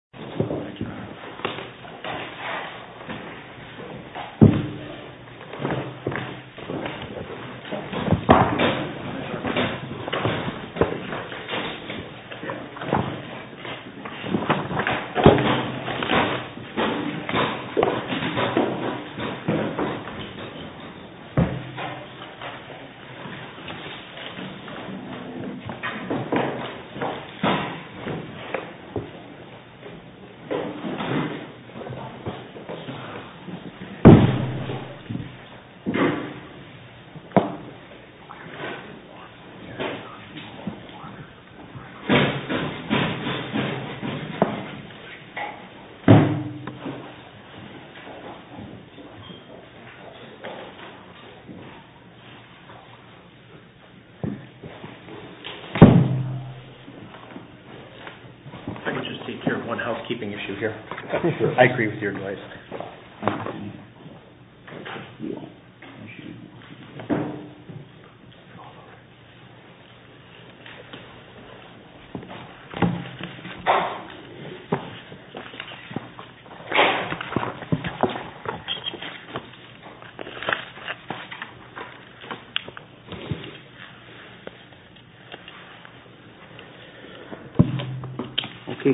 LTS Scale Company, Inc. v. LTS Scale Company, Inc. v. LTS Scale Company,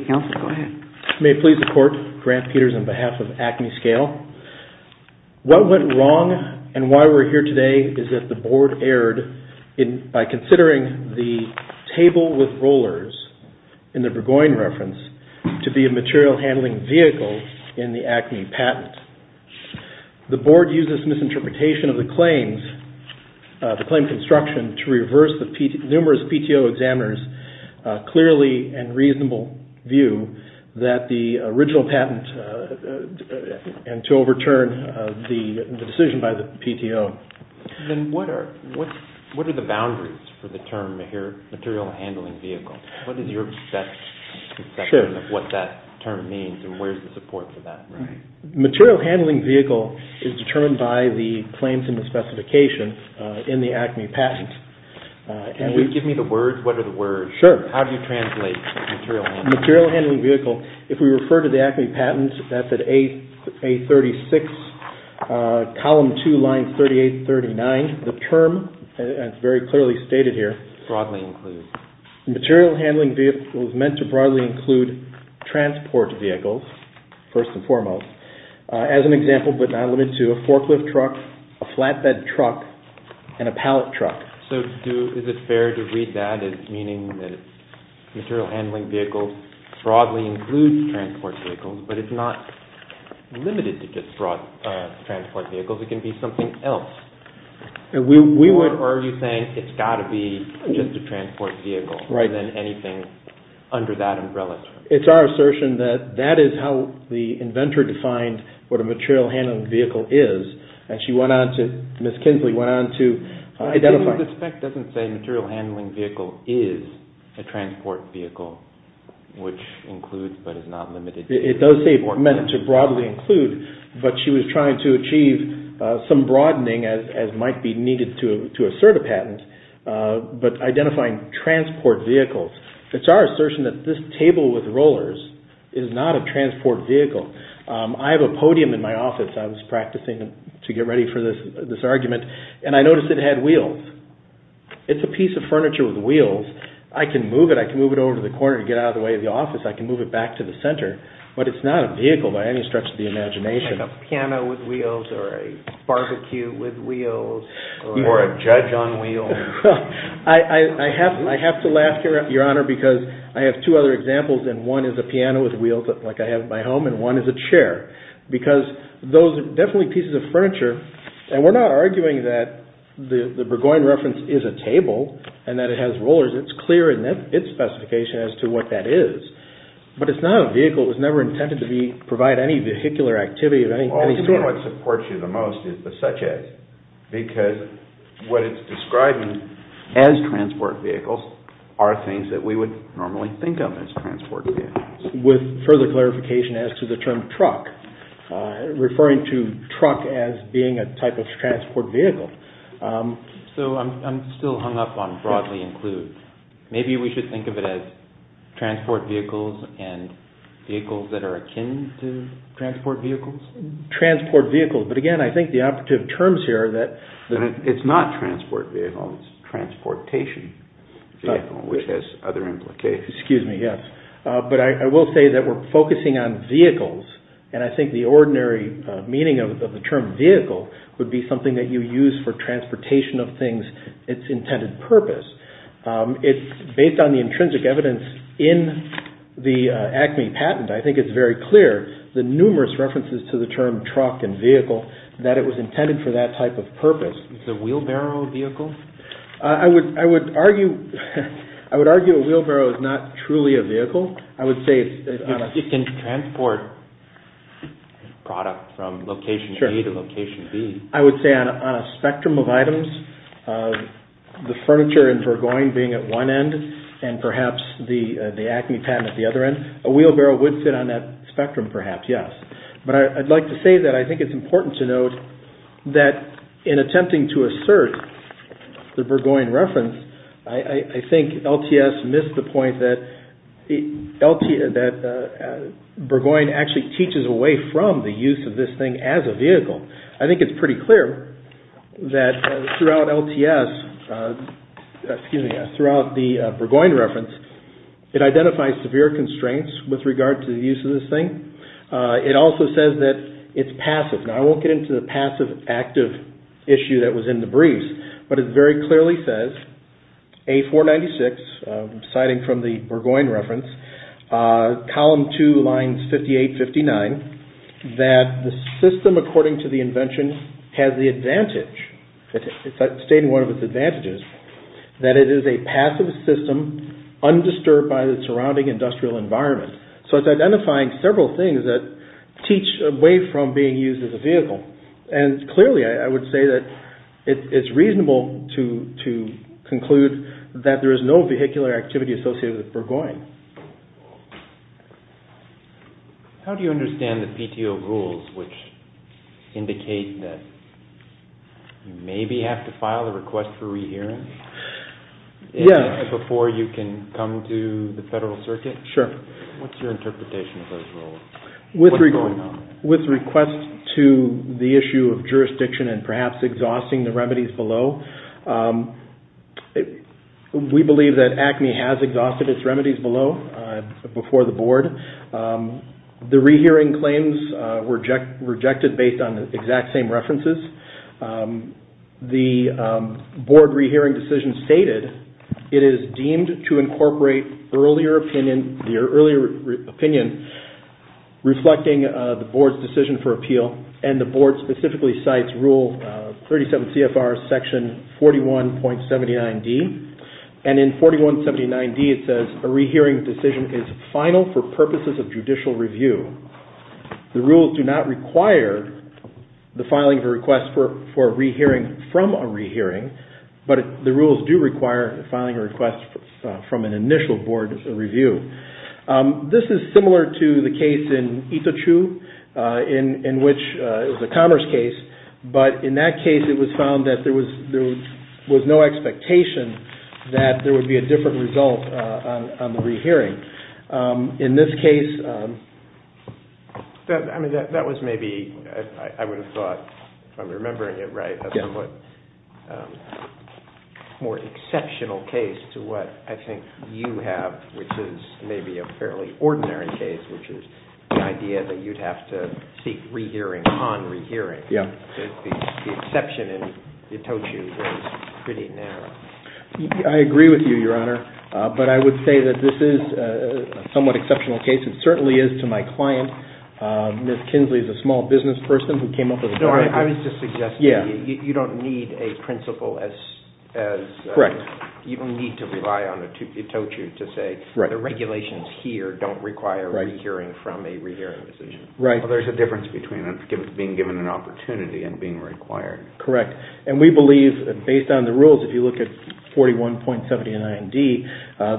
Inc. May it please the Court, Grant Peters on behalf of ACME Scale. What went wrong and why we are here today is that the Board erred by considering the table with rollers, in the Burgoyne reference, to be a material handling vehicle in the ACME patent. The Board used this misinterpretation of the claims, the claim construction, and to reverse the numerous PTO examiners' clearly and reasonable view that the original patent, and to overturn the decision by the PTO. What are the boundaries for the term material handling vehicle? What is your conception of what that term means and where is the support for that? Material handling vehicle is determined by the claims in the specification in the ACME patent. Can you give me the words? What are the words? Sure. How do you translate material handling vehicle? Material handling vehicle, if we refer to the ACME patent, that's at A36, column 2, line 38-39. The term is very clearly stated here. Broadly included. Material handling vehicle is meant to broadly include transport vehicles, first and foremost. As an example, but not limited to, a forklift truck, a flatbed truck, and a pallet truck. So is it fair to read that as meaning that material handling vehicle broadly includes transport vehicles, but it's not limited to just transport vehicles. It can be something else. Or are you saying it's got to be just a transport vehicle rather than anything under that umbrella? It's our assertion that that is how the inventor defined what a material handling vehicle is, and she went on to, Ms. Kinsley went on to identify. I think the spec doesn't say material handling vehicle is a transport vehicle, which includes but is not limited to. It does say meant to broadly include, but she was trying to achieve some broadening as might be needed to assert a patent, but identifying transport vehicles. It's our assertion that this table with rollers is not a transport vehicle. I have a podium in my office. I was practicing to get ready for this argument, and I noticed it had wheels. It's a piece of furniture with wheels. I can move it. I can move it over to the corner to get out of the way of the office. I can move it back to the center, but it's not a vehicle by any stretch of the imagination. Like a piano with wheels or a barbecue with wheels or a judge on wheels. I have to laugh, Your Honor, because I have two other examples, and one is a piano with wheels like I have at my home, and one is a chair because those are definitely pieces of furniture, and we're not arguing that the Burgoyne reference is a table and that it has rollers. It's clear in its specification as to what that is, but it's not a vehicle. It was never intended to provide any vehicular activity of any sort. The only thing that supports you the most is the such as because what it's describing as transport vehicles are things that we would normally think of as transport vehicles. With further clarification as to the term truck, referring to truck as being a type of transport vehicle. So I'm still hung up on broadly include. Maybe we should think of it as transport vehicles and vehicles that are akin to transport vehicles. Transport vehicles, but again, I think the operative terms here are that... It's not transport vehicle, it's transportation vehicle which has other implications. Excuse me, yes. But I will say that we're focusing on vehicles, and I think the ordinary meaning of the term vehicle would be something that you use for transportation of things, its intended purpose. It's based on the intrinsic evidence in the ACME patent. I think it's very clear, the numerous references to the term truck and vehicle, that it was intended for that type of purpose. Is a wheelbarrow a vehicle? I would argue a wheelbarrow is not truly a vehicle. It can transport product from location A to location B. I would say on a spectrum of items, the furniture in Burgoyne being at one end, and perhaps the ACME patent at the other end, a wheelbarrow would fit on that spectrum perhaps, yes. But I'd like to say that I think it's important to note that in attempting to assert the Burgoyne reference, I think LTS missed the point that Burgoyne actually teaches away from the use of this thing as a vehicle. I think it's pretty clear that throughout LTS, excuse me, throughout the Burgoyne reference, it identifies severe constraints with regard to the use of this thing. It also says that it's passive. Now, I won't get into the passive-active issue that was in the briefs, but it very clearly says, A496, citing from the Burgoyne reference, column two, lines 58-59, that the system according to the invention has the advantage, it's stating one of its advantages, that it is a passive system, undisturbed by the surrounding industrial environment. So it's identifying several things that teach away from being used as a vehicle. And clearly, I would say that it's reasonable to conclude that there is no vehicular activity associated with Burgoyne. How do you understand the PTO rules which indicate that you maybe have to file a request for rehearing? Yes. Before you can come to the Federal Circuit? Sure. What's your interpretation of those rules? What's going on? With request to the issue of jurisdiction and perhaps exhausting the remedies below, we believe that ACME has exhausted its remedies below, before the Board. The rehearing claims were rejected based on the exact same references. The Board rehearing decision stated, it is deemed to incorporate earlier opinion reflecting the Board's decision for appeal, and the Board specifically cites rule 37 CFR section 41.79D. And in 41.79D it says, a rehearing decision is final for purposes of judicial review. The rules do not require the filing of a request for a rehearing from a rehearing, but the rules do require filing a request from an initial Board review. This is similar to the case in Itochu, in which it was a commerce case, but in that case it was found that there was no expectation that there would be a different result on the rehearing. In this case, that was maybe, I would have thought, if I'm remembering it right, a somewhat more exceptional case to what I think you have, which is maybe a fairly ordinary case, which is the idea that you'd have to seek rehearing upon rehearing. Yeah. The exception in Itochu was pretty narrow. I agree with you, Your Honor, but I would say that this is a somewhat exceptional case. It certainly is to my client. Ms. Kinsley is a small business person who came up with the idea. No, I was just suggesting you don't need a principle as... Correct. You don't need to rely on Itochu to say the regulations here don't require rehearing from a rehearing decision. Right. There's a difference between being given an opportunity and being required. Correct. And we believe, based on the rules, if you look at 41.79D,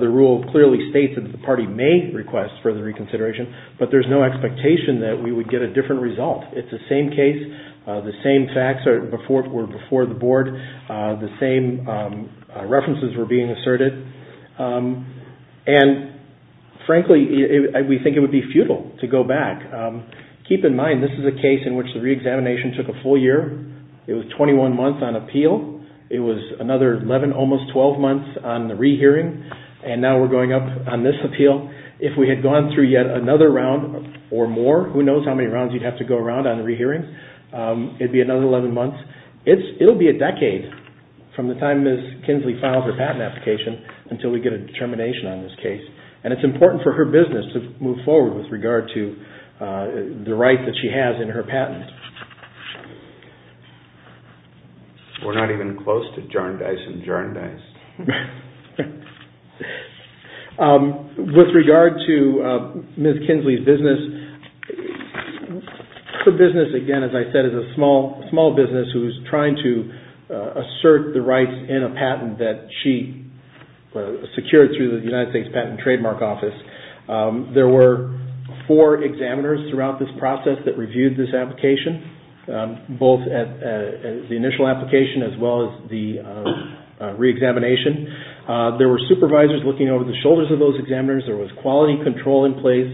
the rule clearly states that the party may request further reconsideration, but there's no expectation that we would get a different result. It's the same case. The same facts were before the board. The same references were being asserted. And, frankly, we think it would be futile to go back. Keep in mind, this is a case in which the reexamination took a full year. It was 21 months on appeal. It was another 11, almost 12 months on the rehearing. And now we're going up on this appeal. If we had gone through yet another round or more, who knows how many rounds you'd have to go around on the rehearing, it'd be another 11 months. It'll be a decade from the time Ms. Kinsley files her patent application until we get a determination on this case. And it's important for her business to move forward with regard to the right that she has in her patent. We're not even close to jar and dice and jar and dice. With regard to Ms. Kinsley's business, her business, again, as I said, is a small business who is trying to assert the rights in a patent that she secured through the United States Patent and Trademark Office. There were four examiners throughout this process that reviewed this application. Both the initial application as well as the re-examination. There were supervisors looking over the shoulders of those examiners. There was quality control in place.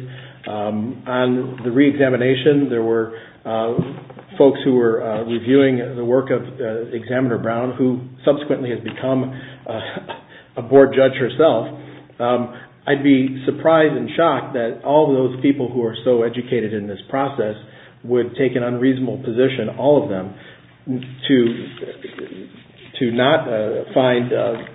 On the re-examination, there were folks who were reviewing the work of Examiner Brown, who subsequently has become a board judge herself. I'd be surprised and shocked that all those people who are so educated in this process would take an unreasonable position, all of them, to not find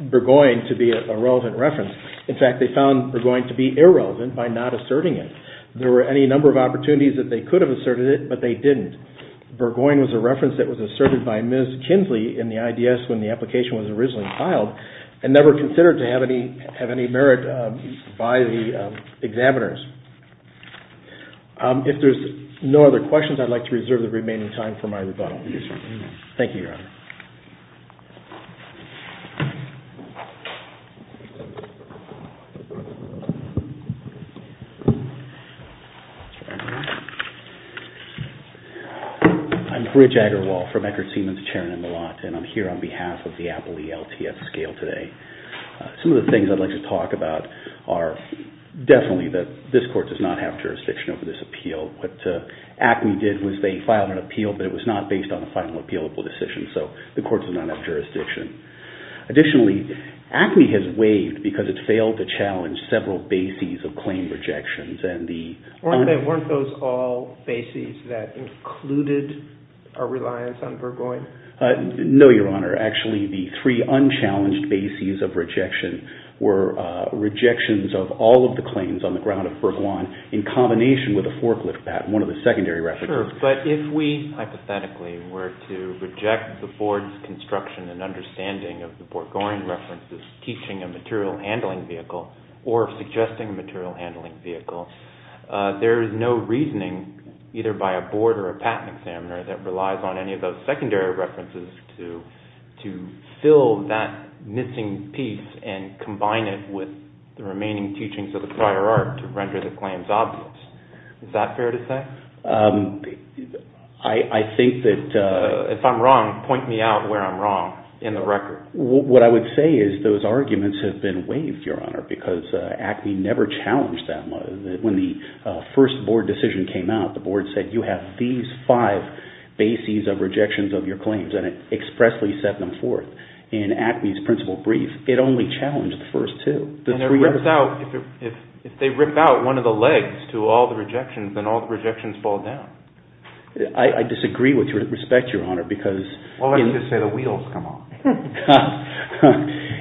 Burgoyne to be a relevant reference. In fact, they found Burgoyne to be irrelevant by not asserting it. There were any number of opportunities that they could have asserted it, but they didn't. Burgoyne was a reference that was asserted by Ms. Kinsley in the IDS when the application was originally filed and never considered to have any merit by the examiners. If there are no other questions, I'd like to reserve the remaining time for my rebuttal. Thank you, Your Honor. I'm Rich Agarwal from Eckert Siemens, chairing in the lot. I'm here on behalf of the Apple ELTS scale today. Some of the things I'd like to talk about are definitely that this Court does not have jurisdiction over this appeal. What ACME did was they filed an appeal, but it was not based on a final appealable decision, so the Court does not have jurisdiction. Additionally, ACME has waived because it failed to challenge several bases of claim rejections. Weren't those all bases that included a reliance on Burgoyne? No, Your Honor. Actually, the three unchallenged bases of rejection were rejections of all of the claims on the ground of Burgoyne in combination with a forklift patent, one of the secondary references. Sure, but if we hypothetically were to reject the Board's construction and understanding of the Burgoyne references teaching a material handling vehicle or suggesting a material handling vehicle, there is no reasoning either by a Board or a patent examiner that relies on any of those secondary references to fill that missing piece and combine it with the remaining teachings of the prior art to render the claims obvious. Is that fair to say? I think that... If I'm wrong, point me out where I'm wrong in the record. What I would say is those arguments have been waived, Your Honor, because ACME never challenged that. When the first Board decision came out, the Board said, you have these five bases of rejections of your claims and it expressly set them forth in ACME's principle brief. It only challenged the first two. If they rip out one of the legs to all the rejections, then all the rejections fall down. I disagree with your respect, Your Honor, because... Why don't you just say the wheels come off?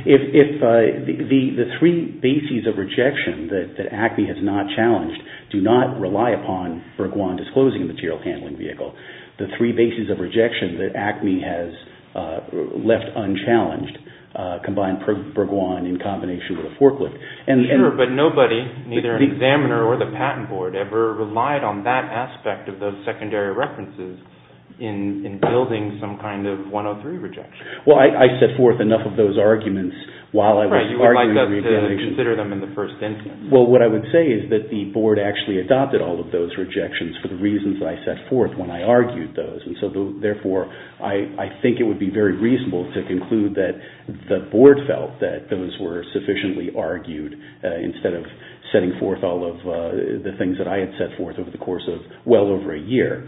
If the three bases of rejection that ACME has not challenged do not rely upon Bergoin disclosing the material handling vehicle, the three bases of rejection that ACME has left unchallenged combine Bergoin in combination with a forklift... Sure, but nobody, neither an examiner or the Patent Board, ever relied on that aspect of those secondary references in building some kind of 103 rejection. Well, I set forth enough of those arguments while I was arguing... Right, you would like us to consider them in the first instance. Well, what I would say is that the Board actually adopted all of those rejections for the reasons I set forth when I argued those. And so, therefore, I think it would be very reasonable to conclude that the Board felt that those were sufficiently argued instead of setting forth all of the things that I had set forth over the course of well over a year.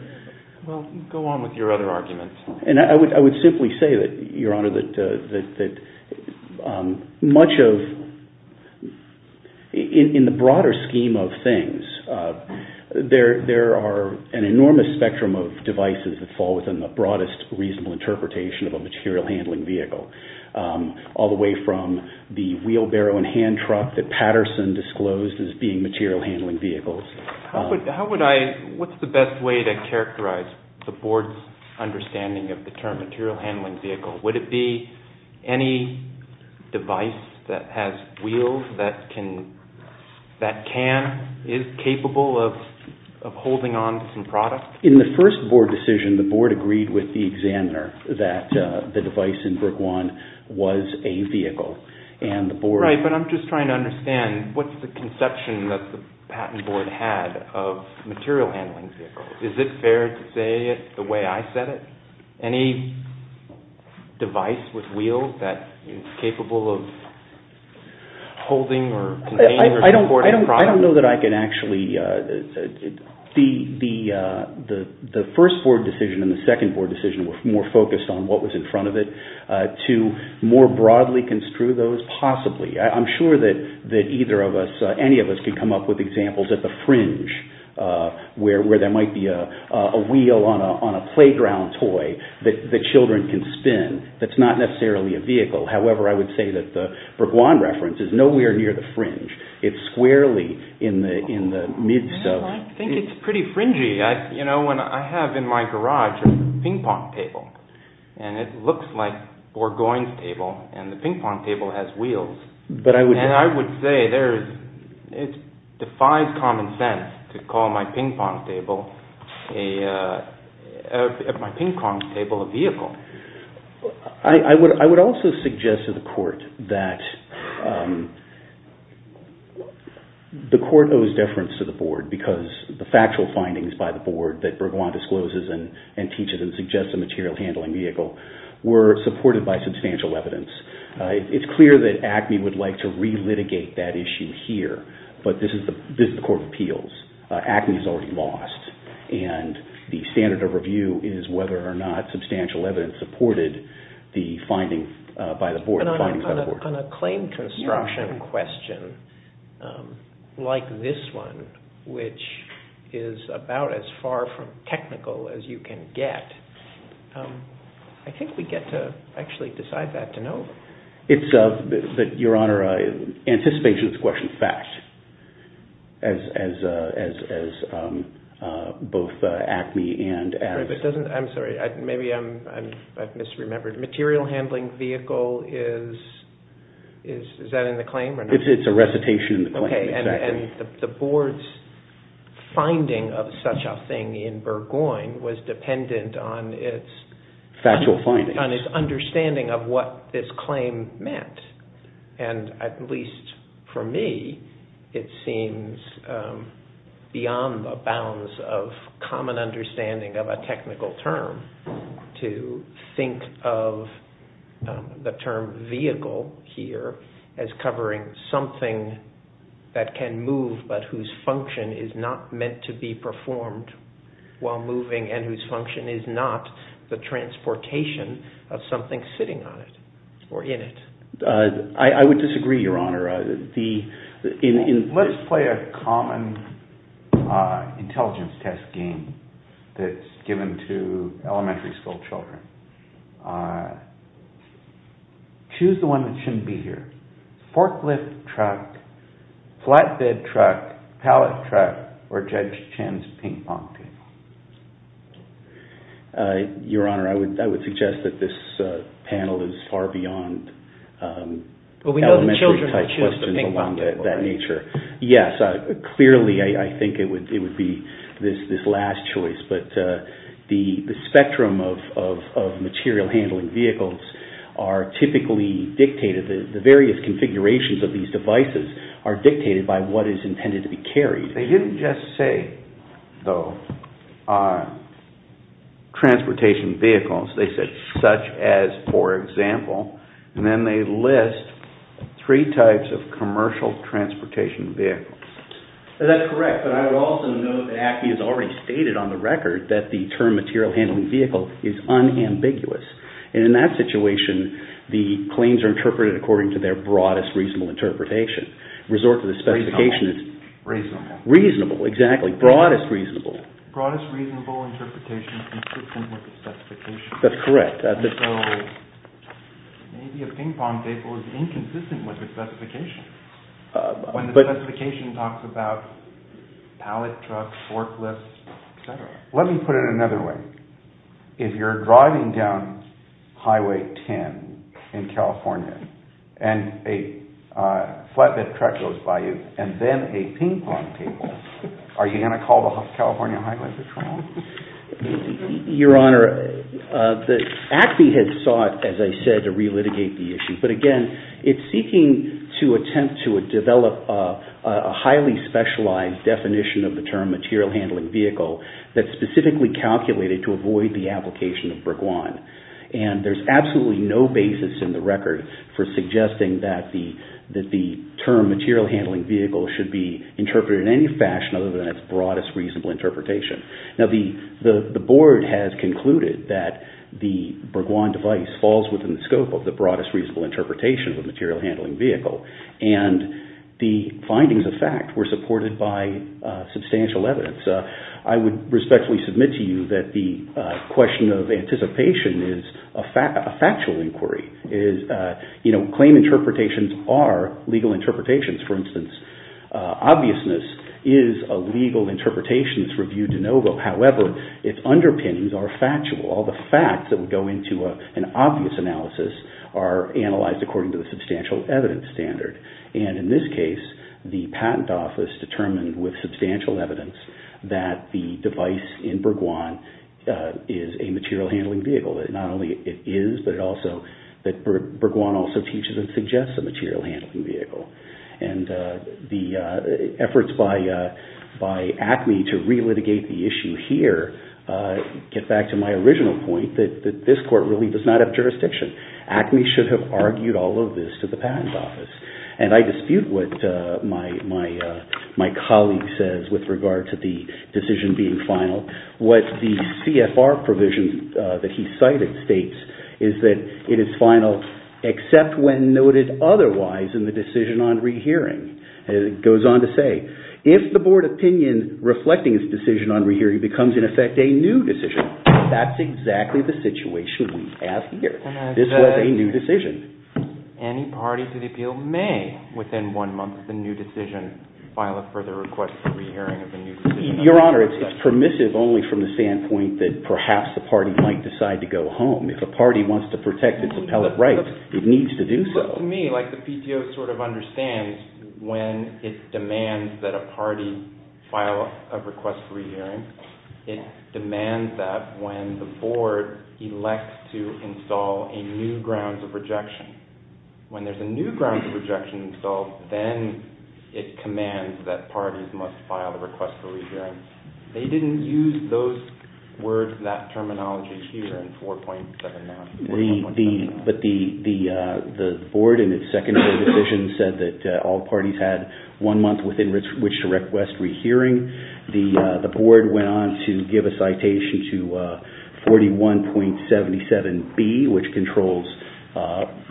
Well, go on with your other arguments. And I would simply say that, Your Honor, that much of... In the broader scheme of things, there are an enormous spectrum of devices that fall within the broadest reasonable interpretation of a material handling vehicle, all the way from the wheelbarrow and hand truck that Patterson disclosed as being material handling vehicles. How would I... What's the best way to characterize the Board's understanding of the term material handling vehicle? Would it be any device that has wheels that can... is capable of holding on to some product? In the first Board decision, the Board agreed with the examiner that the device in Brook One was a vehicle, and the Board... Right, but I'm just trying to understand, what's the conception that the Patent Board had of material handling vehicles? Is it fair to say it the way I said it? Any device with wheels that is capable of holding or... I don't know that I can actually... The first Board decision and the second Board decision were more focused on what was in front of it. To more broadly construe those, possibly. I'm sure that either of us, any of us, could come up with examples at the fringe where there might be a wheel on a playground toy that children can spin. That's not necessarily a vehicle. However, I would say that the Brook One reference is nowhere near the fringe. It's squarely in the midst of... I think it's pretty fringy. You know, when I have in my garage a ping-pong table, and it looks like Borgoyne's table, and the ping-pong table has wheels. And I would say it defies common sense to call my ping-pong table a vehicle. I would also suggest to the Court that the Court owes deference to the Board because the factual findings by the Board that Borgoyne discloses and teaches and suggests a material handling vehicle were supported by substantial evidence. It's clear that ACME would like to relitigate that issue here, but this is the Court of Appeals. ACME's already lost, and the standard of review is whether or not substantial evidence supported the findings by the Board. On a claim construction question like this one, which is about as far from technical as you can get, I think we get to actually decide that to know. Your Honor, anticipation of this question is fact, as both ACME and... I'm sorry, maybe I've misremembered. Material handling vehicle is... Is that in the claim or not? It's a recitation in the claim, exactly. And the Board's finding of such a thing in Borgoyne was dependent on its... Factual findings. ...on its understanding of what this claim meant. And at least for me, it seems beyond the bounds of common understanding of a technical term to think of the term vehicle here as covering something that can move but whose function is not meant to be performed while moving and whose function is not the transportation of something sitting on it or in it. I would disagree, Your Honor. Let's play a common intelligence test game that's given to elementary school children. Choose the one that shouldn't be here. Forklift truck, flatbed truck, pallet truck, or Judge Chen's ping-pong table. Your Honor, I would suggest that this panel is far beyond elementary type questions about that nature. Yes, clearly I think it would be this last choice, but the spectrum of material handling vehicles are typically dictated. The various configurations of these devices are dictated by what is intended to be carried. They didn't just say, though, transportation vehicles. They said, such as, for example, and then they list three types of commercial transportation vehicles. That's correct, but I would also note that ACME has already stated on the record that the term material handling vehicle is unambiguous. And in that situation, the claims are interpreted according to their broadest reasonable interpretation. Resort to the specification. Reasonable. Reasonable, exactly. Broadest reasonable. Broadest reasonable interpretation inconsistent with the specification. That's correct. So, maybe a ping-pong table is inconsistent with the specification. When the specification talks about pallet trucks, forklifts, etc. Let me put it another way. If you're driving down Highway 10 in California and a flatbed truck goes by you and then a ping-pong table, are you going to call the California Highway Patrol? Your Honor, ACME has sought, as I said, to re-litigate the issue. But again, it's seeking to attempt to develop a highly specialized definition of the term material handling vehicle that's specifically calculated to avoid the application of Breguon. And there's absolutely no basis in the record for suggesting that the term material handling vehicle should be interpreted in any fashion other than its broadest reasonable interpretation. Now, the Board has concluded that the Breguon device falls within the scope of the broadest reasonable interpretation of the material handling vehicle. And the findings of fact were supported by substantial evidence. I would respectfully submit to you that the question of anticipation is a factual inquiry. Claim interpretations are legal interpretations. For instance, obviousness is a legal interpretation that's reviewed de novo. However, its underpinnings are factual. All the facts that would go into an obvious analysis are analyzed according to the substantial evidence standard. And in this case, the Patent Office determined with substantial evidence that the device in Breguon is a material handling vehicle. Not only it is, but Breguon also teaches and suggests a material handling vehicle. And the efforts by ACME to relitigate the issue here get back to my original point that this Court really does not have jurisdiction. ACME should have argued all of this to the Patent Office. And I dispute what my colleague says with regard to the decision being final. What the CFR provision that he cited states is that it is final except when noted otherwise in the decision on rehearing. It goes on to say, if the Board opinion reflecting its decision on rehearing becomes in effect a new decision, that's exactly the situation we have here. This was a new decision. Any party to the appeal may, within one month of the new decision, file a further request for rehearing of the new decision. Your Honor, it's permissive only from the standpoint that perhaps the party might decide to go home. If a party wants to protect its appellate rights, it needs to do so. To me, the PTO sort of understands when it demands that a party file a request for rehearing, it demands that when the Board elects to install a new grounds of rejection. When there's a new grounds of rejection installed, then it commands that parties must file a request for rehearing. They didn't use those words, that terminology here in 4.7 now. But the Board in its secondary decision said that all parties had one month within which to request rehearing. The Board went on to give a citation to 41.77B, which controls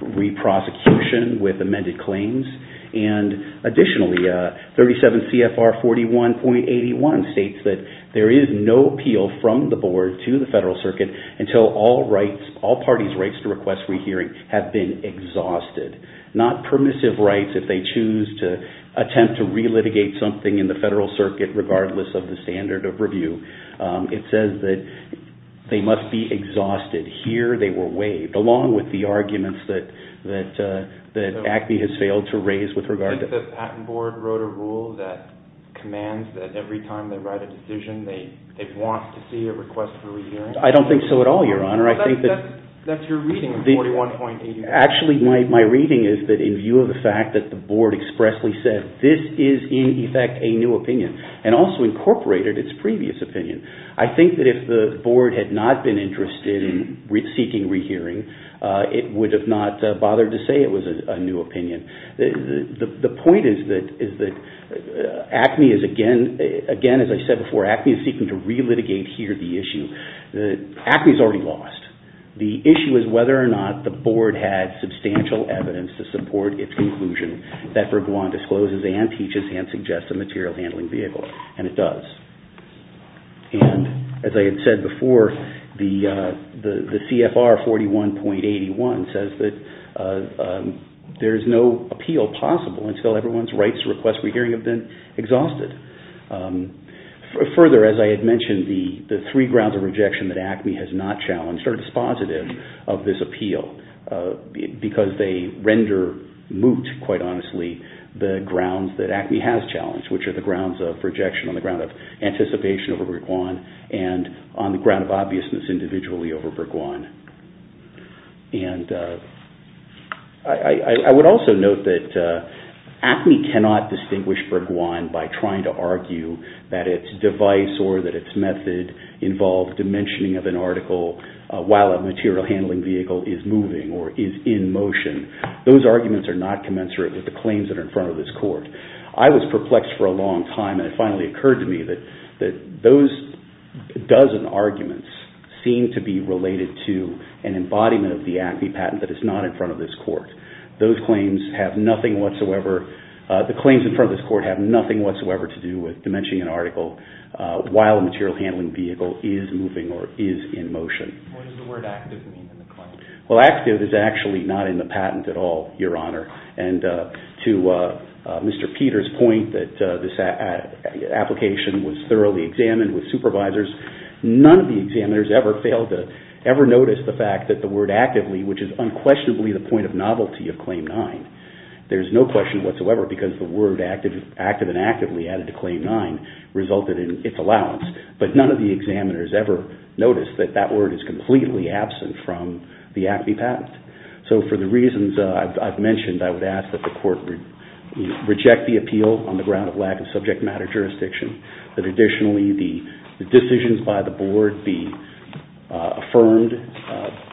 re-prosecution with amended claims. And additionally, 37CFR 41.81 states that there is no appeal from the Board to the Federal Circuit until all parties' rights to request rehearing have been exhausted. Not permissive rights if they choose to attempt to re-litigate something in the Federal Circuit regardless of the standard of review. It says that they must be exhausted. Here they were waived, along with the arguments that ACME has failed to raise with regard to... I think the Patent Board wrote a rule that commands that every time they write a decision, they want to see a request for rehearing. I don't think so at all, Your Honor. That's your reading of 41.81. Actually, my reading is that in view of the fact that the Board expressly said, this is in effect a new opinion and also incorporated its previous opinion, I think that if the Board had not been interested in seeking rehearing, it would have not bothered to say it was a new opinion. The point is that, again, as I said before, ACME is seeking to re-litigate here the issue. ACME has already lost. The issue is whether or not the Board had substantial evidence to support its conclusion that Vergois discloses and teaches and suggests a material handling vehicle. And it does. And as I had said before, the CFR 41.81 says that there is no appeal possible until everyone's rights to request rehearing have been exhausted. Further, as I had mentioned, the three grounds of rejection that ACME has not challenged are dispositive of this appeal because they render moot, quite honestly, the grounds that ACME has challenged, which are the grounds of rejection on the ground of anticipation over Vergois and on the ground of obviousness individually over Vergois. And I would also note that ACME cannot distinguish Vergois by trying to argue that its device or that its method involves dimensioning of an article while a material handling vehicle is moving or is in motion. Those arguments are not commensurate with the claims that are in front of this Court. I was perplexed for a long time and it finally occurred to me that those dozen arguments seem to be related to an embodiment of the ACME patent that is not in front of this Court. Those claims have nothing whatsoever, the claims in front of this Court have nothing whatsoever to do with dimensioning an article while a material handling vehicle is moving or is in motion. What does the word active mean in the claim? Well, active is actually not in the patent at all, Your Honor. And to Mr. Peter's point that this application was thoroughly examined with supervisors, none of the examiners ever noticed the fact that the word actively, which is unquestionably the point of novelty of Claim 9, there is no question whatsoever because the word active and actively added to Claim 9 resulted in its allowance. But none of the examiners ever noticed that that word is completely absent from the ACME patent. So for the reasons I've mentioned, I would ask that the Court reject the appeal on the ground of lack of subject matter jurisdiction, that additionally the decisions by the Board be affirmed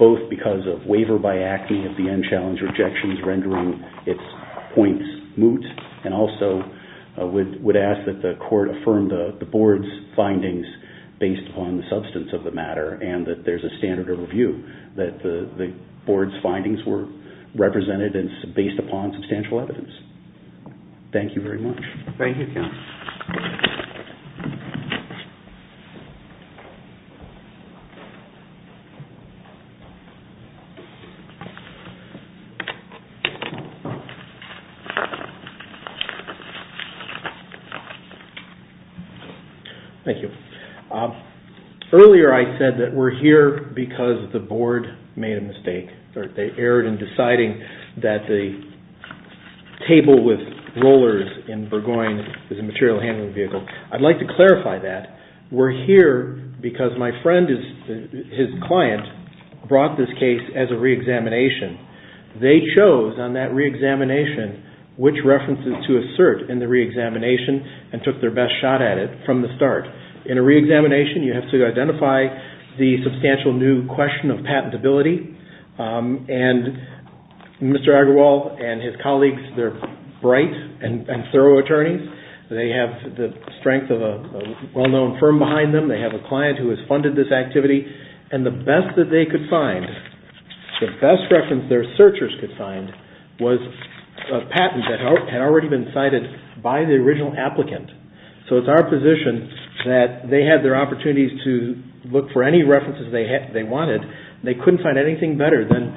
both because of waiver by ACME of the end challenge rejections rendering its points moot, and also would ask that the Court affirm the Board's findings based upon the substance of the matter and that there's a standard of review that the Board's findings were represented and based upon substantial evidence. Thank you very much. Thank you, Counsel. Thank you. Earlier I said that we're here because the Board made a mistake. They erred in deciding that the table with rollers in Burgoyne is a material handling vehicle. I'd like to clarify that. We're here because my friend, his client, brought this case as a re-examination. They chose on that re-examination which references to assert in the re-examination and took their best shot at it from the start. In a re-examination, you have to identify the substantial new question of patentability. And Mr. Agarwal and his colleagues, they're bright and thorough attorneys. They have the strength of a well-known firm behind them. They have a client who has funded this activity. And the best that they could find, the best reference their searchers could find, was a patent that had already been cited by the original applicant. So it's our position that they had their opportunities to look for any references they wanted. They couldn't find anything better than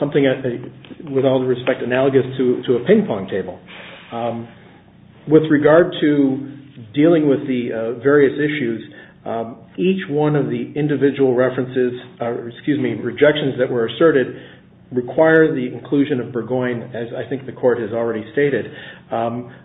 something, with all due respect, analogous to a ping-pong table. With regard to dealing with the various issues, each one of the individual references, excuse me, rejections that were asserted require the inclusion of Burgoyne, as I think the Court has already stated.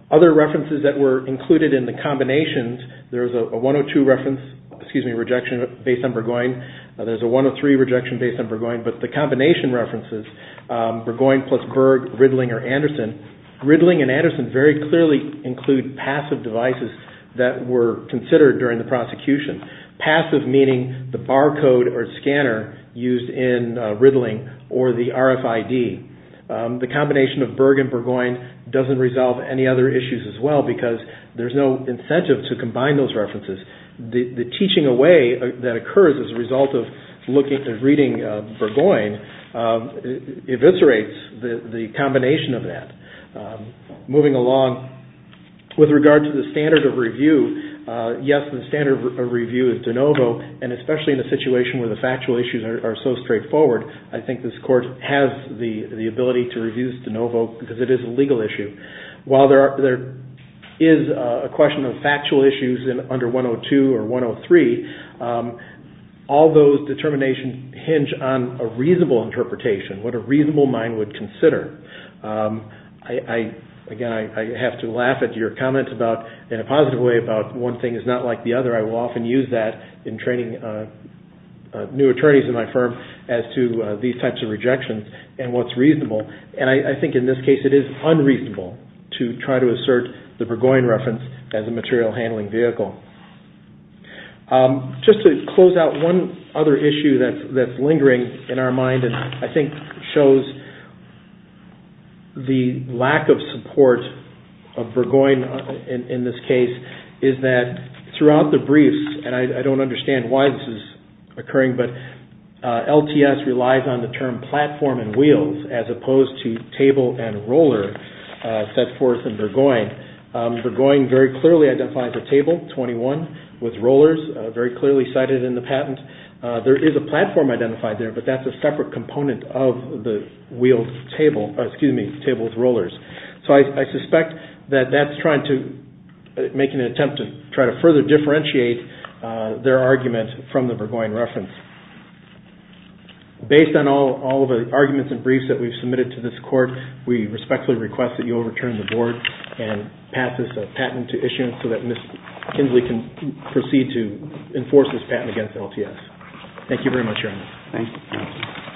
Other references that were included in the combinations, there's a 102 reference, excuse me, rejection based on Burgoyne. There's a 103 rejection based on Burgoyne. But the combination references, Burgoyne plus Berg, Riddling, or Anderson, Riddling and Anderson very clearly include passive devices that were considered during the prosecution. Passive meaning the barcode or scanner used in Riddling or the RFID. The combination of Berg and Burgoyne doesn't resolve any other issues as well because there's no incentive to combine those references. The teaching away that occurs as a result of reading Burgoyne eviscerates the combination of that. Moving along, with regard to the standard of review, yes, the standard of review is de novo, and especially in a situation where the factual issues are so straightforward, I think this Court has the ability to review de novo because it is a legal issue. While there is a question of factual issues under 102 or 103, all those determinations hinge on a reasonable interpretation, what a reasonable mind would consider. Again, I have to laugh at your comment about, in a positive way, about one thing is not like the other. I will often use that in training new attorneys in my firm as to these types of rejections and what's reasonable. I think in this case it is unreasonable to try to assert the Burgoyne reference as a material handling vehicle. Just to close out, one other issue that's lingering in our mind and I think shows the lack of support of Burgoyne in this case is that throughout the briefs, and I don't understand why this is occurring, but LTS relies on the term platform and wheels as opposed to table and roller set forth in Burgoyne. Burgoyne very clearly identifies a table, 21, with rollers, very clearly cited in the patent. There is a platform identified there, but that's a separate component of the wheeled table, excuse me, table with rollers. So I suspect that that's trying to make an attempt to try to further differentiate their argument from the Burgoyne reference. Based on all of the arguments and briefs that we've submitted to this court, we respectfully request that you overturn the board and pass this patent to issuance so that Ms. Kinsley can proceed to enforce this patent against LTS. Thank you very much, Your Honor. Thank you.